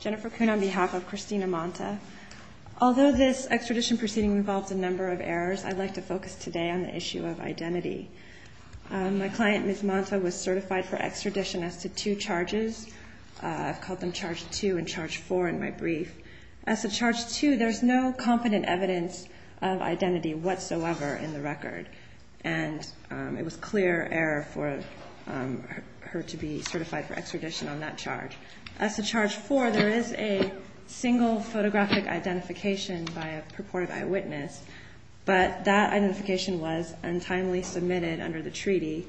Jennifer Kuhn on behalf of Christina Manta. Although this extradition proceeding involved a number of errors, I'd like to focus today on the issue of identity. My client, Ms. Manta, was certified for extradition as to two charges. I've called them Charge 2 and Charge 4 in my brief. As to Charge 2, there's no confident evidence of identity whatsoever in the record, and it was clear error for her to be certified for extradition on that charge. As to Charge 4, there is a single photographic identification by a purported eyewitness, but that identification was untimely submitted under the treaty,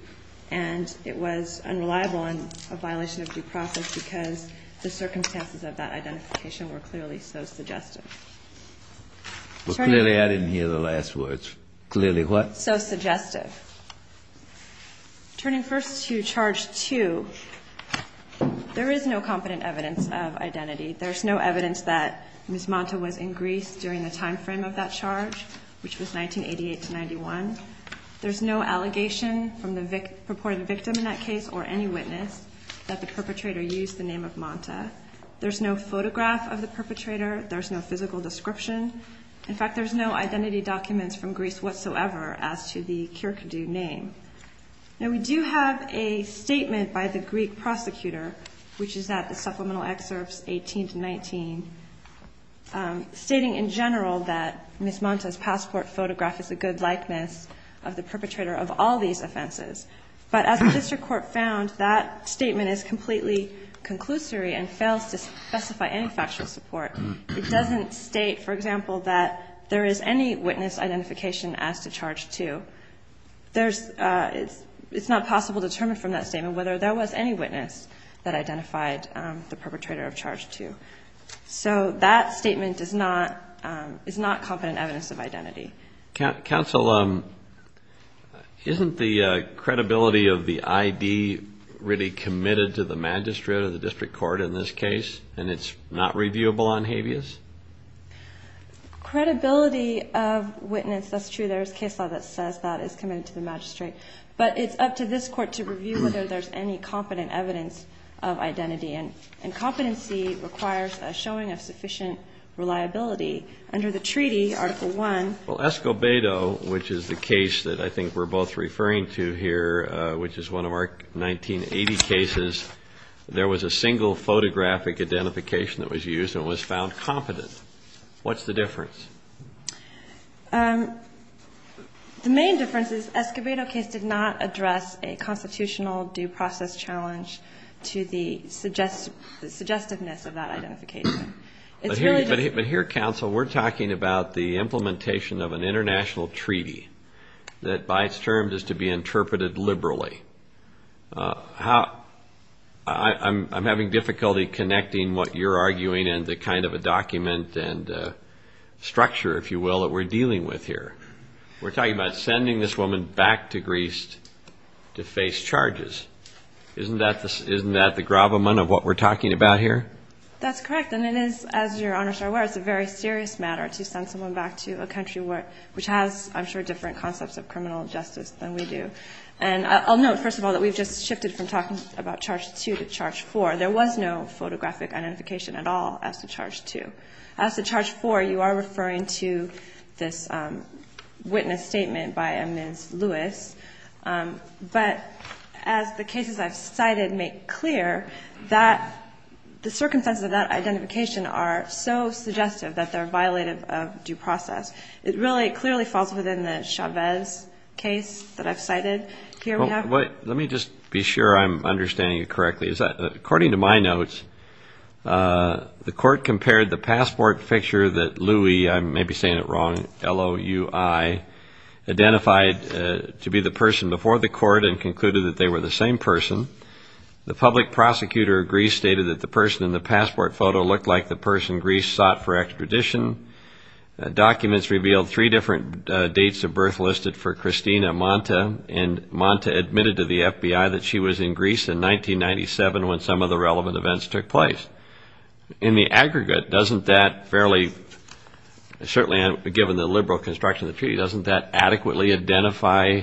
and it was unreliable and a violation of due process because the circumstances of that identification were clearly so suggestive. Clearly, I didn't hear the last words. Clearly what? So suggestive. Turning first to Charge 2, there is no confident evidence of identity. There's no evidence that Ms. Manta was in Greece during the timeframe of that charge, which was 1988-91. There's no allegation from the purported victim in that case or any witness that the perpetrator used the name of Manta. There's no photograph of the perpetrator. There's no physical description. In fact, there's no identity documents from Greece whatsoever as to the Kierkegaard name. Now, we do have a statement by the Greek prosecutor, which is at the supplemental excerpts 18-19, stating in general that Ms. Manta's passport photograph is a good likeness of the perpetrator of all these offenses. But as the district court found, that statement is completely conclusory and fails to specify any factual support. It doesn't state, for example, that there is any witness identification as to Charge 2. There's – it's not possible to determine from that statement whether there was any witness that identified the perpetrator of Charge 2. So that statement does not – is not confident evidence of identity. Counsel, isn't the credibility of the ID really committed to the magistrate or the district court in this case, and it's not reviewable on habeas? Credibility of witness, that's true. There's case law that says that it's committed to the magistrate. But it's up to this court to review whether there's any competent evidence of identity. And competency requires a showing of sufficient reliability. Under the treaty, Article I – Well, Escobedo, which is the case that I think we're both referring to here, which is one of our 1980 cases, there was a single photographic identification that was used and was found competent. What's the difference? The main difference is Escobedo case did not address a constitutional due process challenge to the suggestiveness of that identification. But here, Counsel, we're talking about the implementation of an international treaty that by its terms is to be interpreted liberally. How – I'm having difficulty connecting what you're arguing and the kind of a document and structure, if you will, that we're dealing with here. We're talking about sending this woman back to Greece to face charges. Isn't that the gravamen of what we're talking about here? That's correct. And it is, as Your Honors are aware, it's a very serious matter to send someone back to a country where – which has, I'm sure, different concepts of criminal justice than we do. And I'll note, first of all, that we've just shifted from talking about Charge 2 to Charge 4. There was no photographic identification at all as to Charge 2. As to Charge 4, you are referring to this witness statement by Ms. Lewis. But as the cases I've cited make clear, the circumstances of that identification are so suggestive that they're violative of due process. It really clearly falls within the Chavez case that I've cited. Let me just be sure I'm understanding it correctly. According to my notes, the court compared the passport picture that Louis – I may be saying it wrong, L-O-U-I – identified to be the person before the court and concluded that they were the same person. The public prosecutor of Greece stated that the person in the passport photo looked like the person Greece sought for extradition. Documents revealed three different dates of birth listed for Christina Monta, and Monta admitted to the FBI that she was in Greece in 1997 when some of the relevant events took place. In the aggregate, doesn't that fairly – certainly given the liberal construction of the treaty, doesn't that adequately identify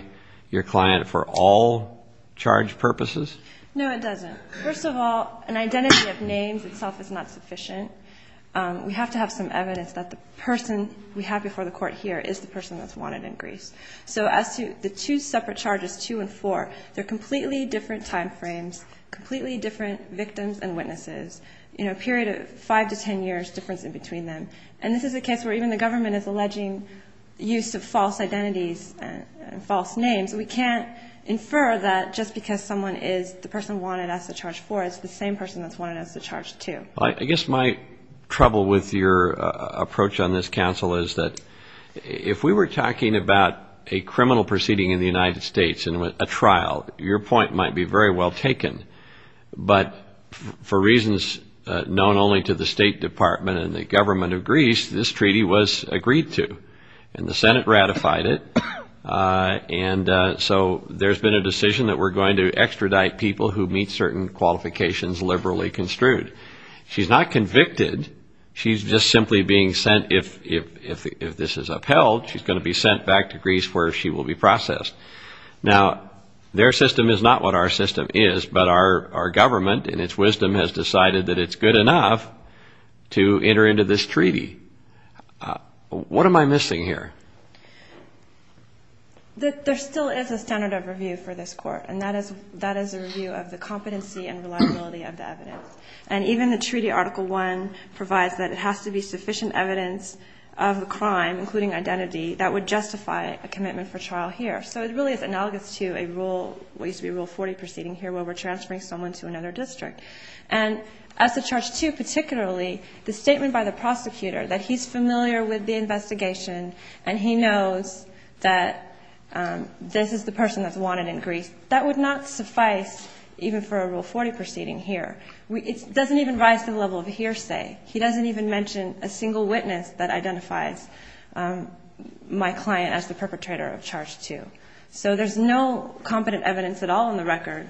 your client for all charge purposes? No, it doesn't. First of all, an identity of names itself is not sufficient. We have to have some evidence that the person we have before the court here is the person that's wanted in Greece. So as to the two separate charges, 2 and 4, they're completely different time frames, completely different victims and witnesses, you know, a period of 5 to 10 years difference in between them. And this is a case where even the government is alleging use of false identities and false names. We can't infer that just because someone is the person wanted as to charge 4, it's the same person that's wanted as to charge 2. Well, I guess my trouble with your approach on this, Counsel, is that if we were talking about a criminal proceeding in the United States and a trial, your point might be very well taken. But for reasons known only to the State Department and the government of Greece, this treaty was agreed to, and the Senate ratified it. And so there's been a decision that we're going to extradite people who meet certain qualifications liberally construed. She's not convicted. She's just simply being sent, if this is upheld, she's going to be sent back to Greece where she will be processed. Now, their system is not what our system is, but our government, in its wisdom, has decided that it's good enough to enter into this treaty. What am I missing here? There still is a standard of review for this Court, and that is a review of the competency and reliability of the evidence. And even the treaty Article 1 provides that it has to be sufficient evidence of the crime, including identity, that would justify a commitment for trial here. So it really is analogous to a rule, what used to be Rule 40 proceeding here, where we're transferring someone to another district. And as to Charge 2 particularly, the statement by the prosecutor that he's familiar with the investigation and he knows that this is the person that's wanted in Greece, that would not suffice even for a Rule 40 proceeding here. It doesn't even rise to the level of a hearsay. He doesn't even mention a single witness that identifies my client as the perpetrator of Charge 2. So there's no competent evidence at all in the record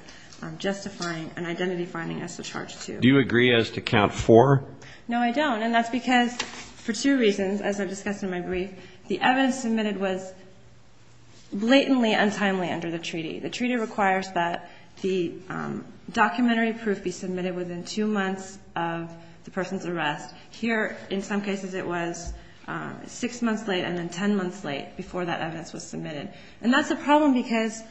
justifying an identity finding as to Charge 2. Do you agree as to Count 4? No, I don't. And that's because for two reasons, as I've discussed in my brief. The evidence submitted was blatantly untimely under the treaty. The treaty requires that the documentary proof be submitted within two months of the person's arrest. Here, in some cases, it was six months late and then ten months late before that evidence was submitted. And that's a problem because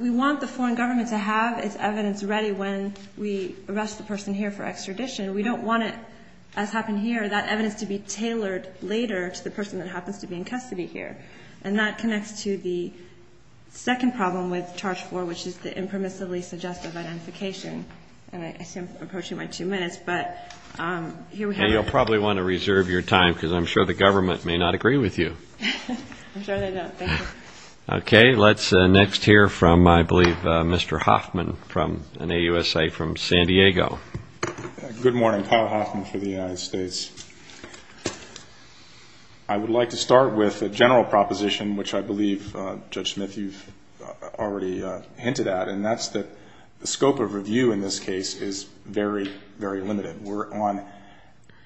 we want the foreign government to have its evidence ready when we arrest the person here for extradition. We don't want it, as happened here, that evidence to be tailored later to the person that happens to be in custody here. And that connects to the second problem with Charge 4, which is the impermissibly suggestive identification. And I see I'm approaching my two minutes, but here we have it. And you'll probably want to reserve your time because I'm sure the government may not agree with you. I'm sure they don't. Thank you. Okay. Let's next hear from, I believe, Mr. Hoffman from an AUSA from San Diego. Good morning. Kyle Hoffman for the United States. I would like to start with a general proposition, which I believe, Judge Smith, you've already hinted at, and that's that the scope of review in this case is very, very limited. We're on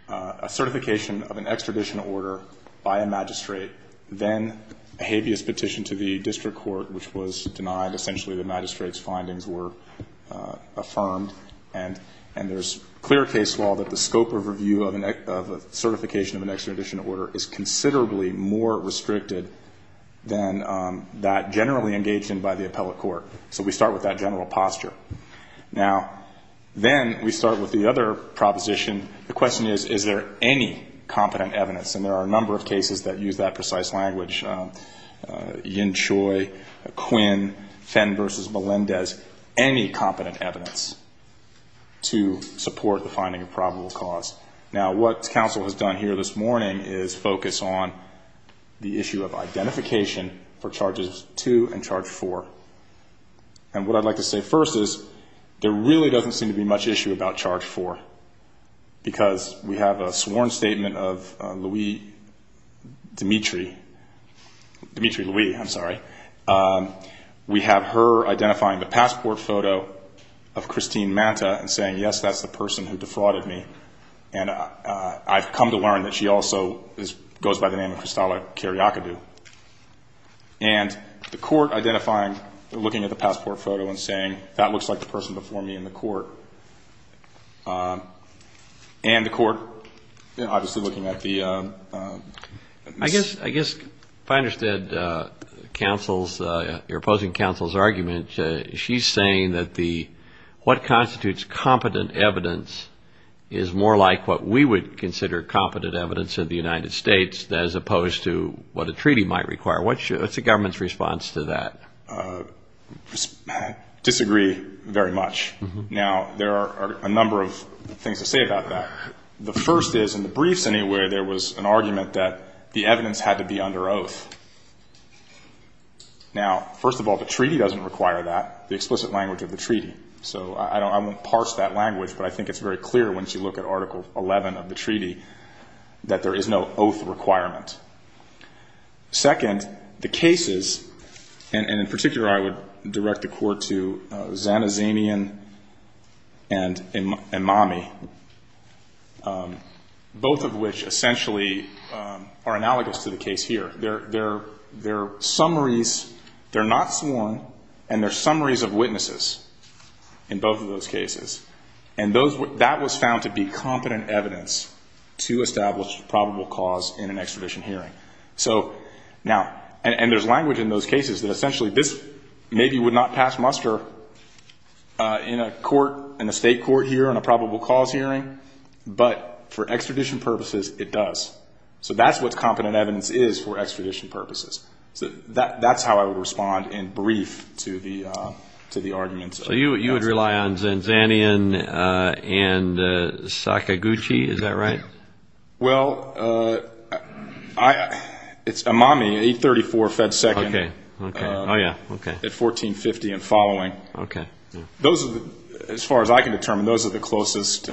a certification of an extradition order by a magistrate, then a habeas petition to the district court, which was denied. Essentially, the magistrate's findings were affirmed. And there's clear case law that the scope of review of a certification of an extradition order is considerably more restricted than that generally engaged in by the appellate court. So we start with that general posture. Now, then we start with the other proposition. The question is, is there any competent evidence? And there are a number of cases that use that precise language, Yin Choi, Quinn, Fenn versus Melendez, any competent evidence to support the finding of probable cause. Now, what counsel has done here this morning is focus on the issue of identification for charges two and charge four. And what I'd like to say first is there really doesn't seem to be much issue about charge four because we have a sworn statement of Louie Dimitri. Dimitri Louie, I'm sorry. We have her identifying the passport photo of Christine Manta and saying, yes, that's the person who defrauded me. And I've come to learn that she also goes by the name of Cristalla Cariocadu. And the court identifying, looking at the passport photo and saying, that looks like the person before me in the court. And the court obviously looking at the Ms. I guess if I understood counsel's, your opposing counsel's argument, she's saying that the what constitutes competent evidence is more like what we would consider competent evidence of the United States as opposed to what a treaty might require. What's the government's response to that? Disagree very much. Now, there are a number of things to say about that. The first is, in the briefs anyway, there was an argument that the evidence had to be under oath. Now, first of all, the treaty doesn't require that, the explicit language of the treaty. So I won't parse that language, but I think it's very clear once you look at Article 11 of the treaty that there is no oath requirement. Second, the cases, and in particular I would direct the court to Zanazanian and Emami, both of which essentially are analogous to the case here. They're summaries, they're not sworn, and they're summaries of witnesses. In both of those cases, and that was found to be competent evidence to establish probable cause in an extradition hearing. So now, and there's language in those cases that essentially this maybe would not pass muster in a court, in a state court here, in a probable cause hearing, but for extradition purposes it does. So that's what competent evidence is for extradition purposes. So that's how I would respond in brief to the arguments. So you would rely on Zanazanian and Sakaguchi, is that right? Well, it's Emami, 834 Fed 2nd at 1450 and following. Those, as far as I can determine, those are the closest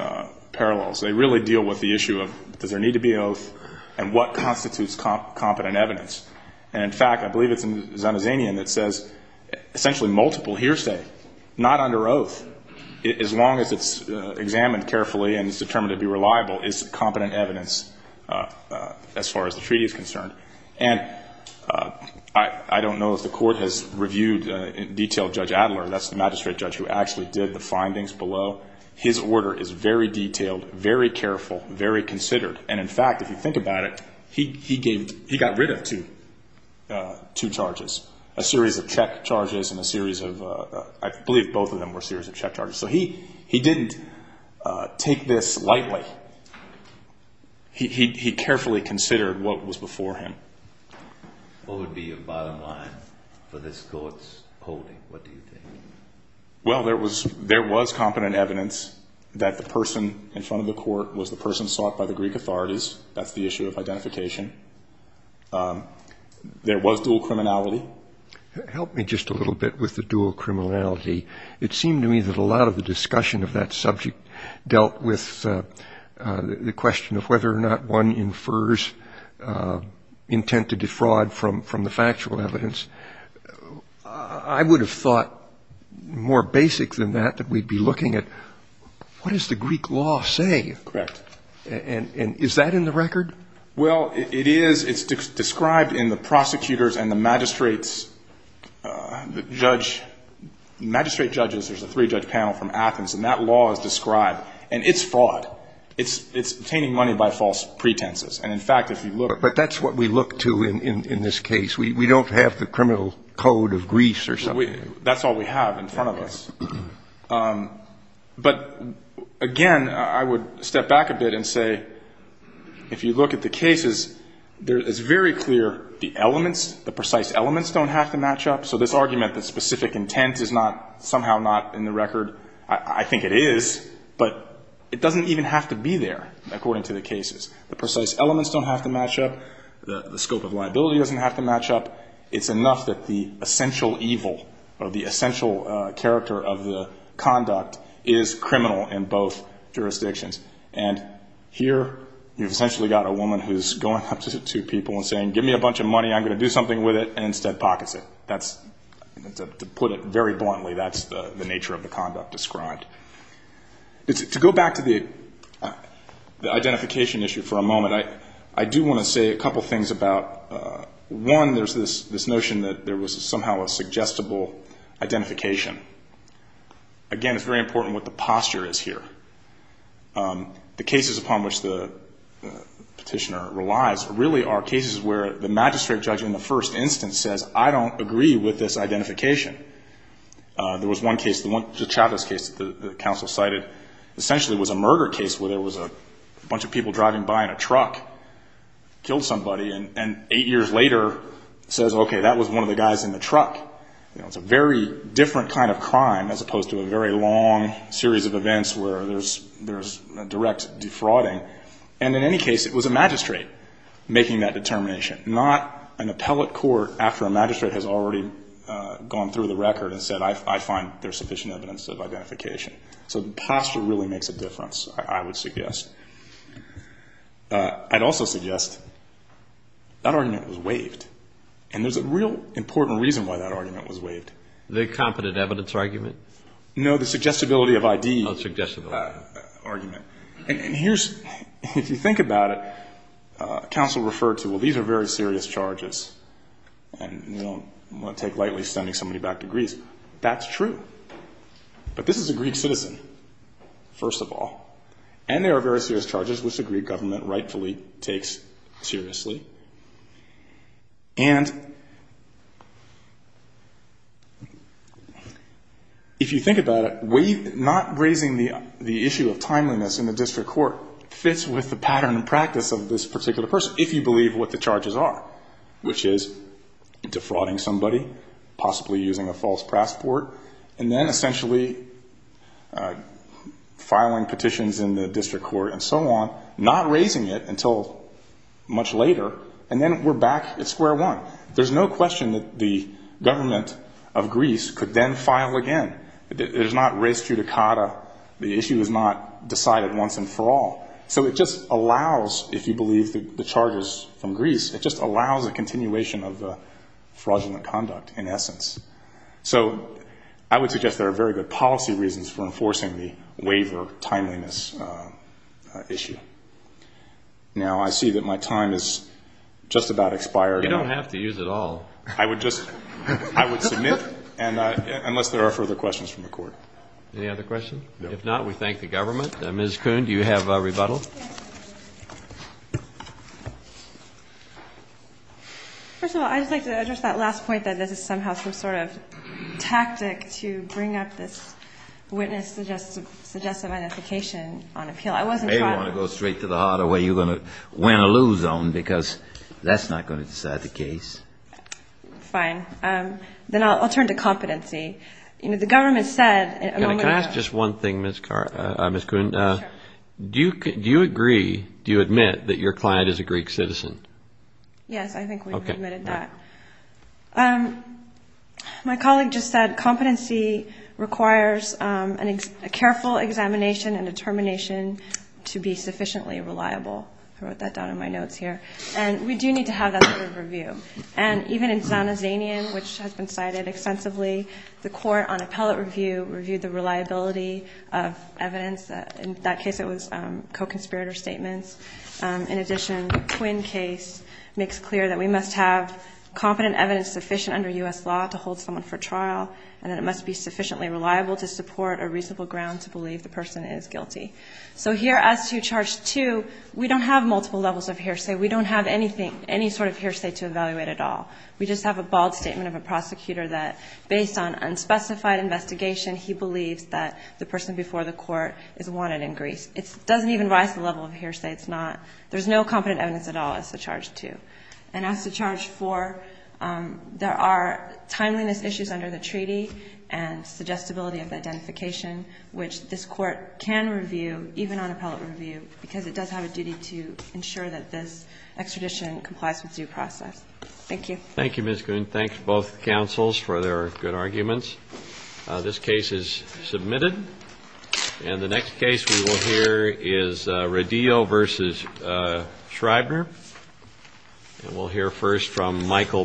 parallels. They really deal with the issue of does there need to be an oath and what constitutes competent evidence. And in fact, I believe it's in Zanazanian that says essentially multiple hearsay, not under oath. As long as it's examined carefully and it's determined to be reliable, it's competent evidence as far as the treaty is concerned. And I don't know if the court has reviewed in detail Judge Adler, that's the magistrate judge who actually did the findings below. His order is very detailed, very careful, very considered. And in fact, if you think about it, he gave, he got rid of two charges. A series of check charges and a series of, I believe both of them were series of check charges. So he didn't take this lightly. He carefully considered what was before him. What would be your bottom line for this court's holding? What do you think? Well, there was competent evidence that the person in front of the court was the person sought by the Greek authorities. That's the issue of identification. There was dual criminality. Help me just a little bit with the dual criminality. It seemed to me that a lot of the discussion of that subject dealt with the question of whether or not one infers intent to defraud from the factual evidence. I would have thought more basic than that, that we'd be looking at what does the Greek law say? Correct. And is that in the record? Well, it is. It's described in the prosecutor's and the magistrate's judge, magistrate judges, there's a three-judge panel from Athens, and that law is described. And it's fraud. It's obtaining money by false pretenses. But that's what we look to in this case. We don't have the criminal code of Greece or something. That's all we have in front of us. But, again, I would step back a bit and say, if you look at the cases, it's very clear the elements, the precise elements don't have to match up. So this argument that specific intent is not somehow not in the record, I think it is, but it doesn't even have to be there, according to the cases. The precise elements don't have to match up. The scope of liability doesn't have to match up. It's enough that the essential evil or the essential character of the conduct is criminal in both jurisdictions. And here you've essentially got a woman who's going up to two people and saying, give me a bunch of money, I'm going to do something with it, and instead pockets it. That's, to put it very bluntly, that's the nature of the conduct described. To go back to the identification issue for a moment, I do want to say a couple things about, one, there's this notion that there was somehow a suggestible identification. Again, it's very important what the posture is here. The cases upon which the Petitioner relies really are cases where the magistrate judge in the first instance says, I don't agree with this identification. There was one case, the Chavez case that the counsel cited, essentially was a murder case where there was a bunch of people driving by in a truck, killed somebody, and eight years later says, okay, that was one of the guys in the truck. It's a very different kind of crime as opposed to a very long series of events where there's direct defrauding. And in any case, it was a magistrate making that determination, not an appellate court after a magistrate has already gone through the record and said, I find there's sufficient evidence of identification. So the posture really makes a difference, I would suggest. I'd also suggest that argument was waived, and there's a real important reason why that argument was waived. The competent evidence argument? No, the suggestibility of ID argument. And here's, if you think about it, counsel referred to, well, these are very serious charges, and you don't want to take lightly sending somebody back to Greece. That's true. But this is a Greek citizen, first of all. And there are very serious charges, which the Greek government rightfully takes seriously. And if you think about it, not raising the issue of timeliness in the district court fits with the pattern and practice of this particular person, if you believe what the charges are, which is defrauding somebody, possibly using a false passport, and then essentially filing petitions in the district court and so on, not raising it until much later, and then we're back at square one. There's no question that the government of Greece could then file again. There's not res judicata. The issue is not decided once and for all. So it just allows, if you believe the charges from Greece, it just allows a continuation of fraudulent conduct, in essence. So I would suggest there are very good policy reasons for enforcing the waiver timeliness issue. Now, I see that my time has just about expired. You don't have to use it all. I would just submit, unless there are further questions from the Court. Any other questions? No. If not, we thank the government. Ms. Kuhn, do you have a rebuttal? First of all, I'd just like to address that last point that this is somehow some sort of tactic to bring up this witness-suggestive identification on appeal. I wasn't trying to go straight to the heart of where you're going to win or lose on, because that's not going to decide the case. Fine. Then I'll turn to competency. You know, the government said at a moment ago Can I ask just one thing, Ms. Kuhn? Sure. Do you agree, do you admit, that your client is a Greek citizen? Yes, I think we've admitted that. Okay. My colleague just said competency requires a careful examination and determination to be sufficiently reliable. I wrote that down in my notes here. And we do need to have that sort of review. And even in Zanazanian, which has been cited extensively, the court on appellate review reviewed the reliability of evidence. In that case, it was co-conspirator statements. In addition, twin case makes clear that we must have competent evidence sufficient under U.S. law to hold someone for trial, and that it must be sufficiently reliable to support a reasonable ground to believe the person is guilty. So here, as to charge two, we don't have multiple levels of hearsay. We don't have anything, any sort of hearsay to evaluate at all. We just have a bald statement of a prosecutor that, based on unspecified investigation, he believes that the person before the court is wanted in Greece. It doesn't even rise to the level of hearsay. It's not – there's no competent evidence at all, as to charge two. And as to charge four, there are timeliness issues under the treaty and suggestibility of the identification, which this Court can review, even on appellate review, because it does have a duty to ensure that this extradition complies with due process. Thank you. Thank you, Ms. Goon. Thanks, both counsels, for their good arguments. This case is submitted. And the next case we will hear is Radillo v. Schreibner. And we'll hear first from Michael Brennan. Thank you.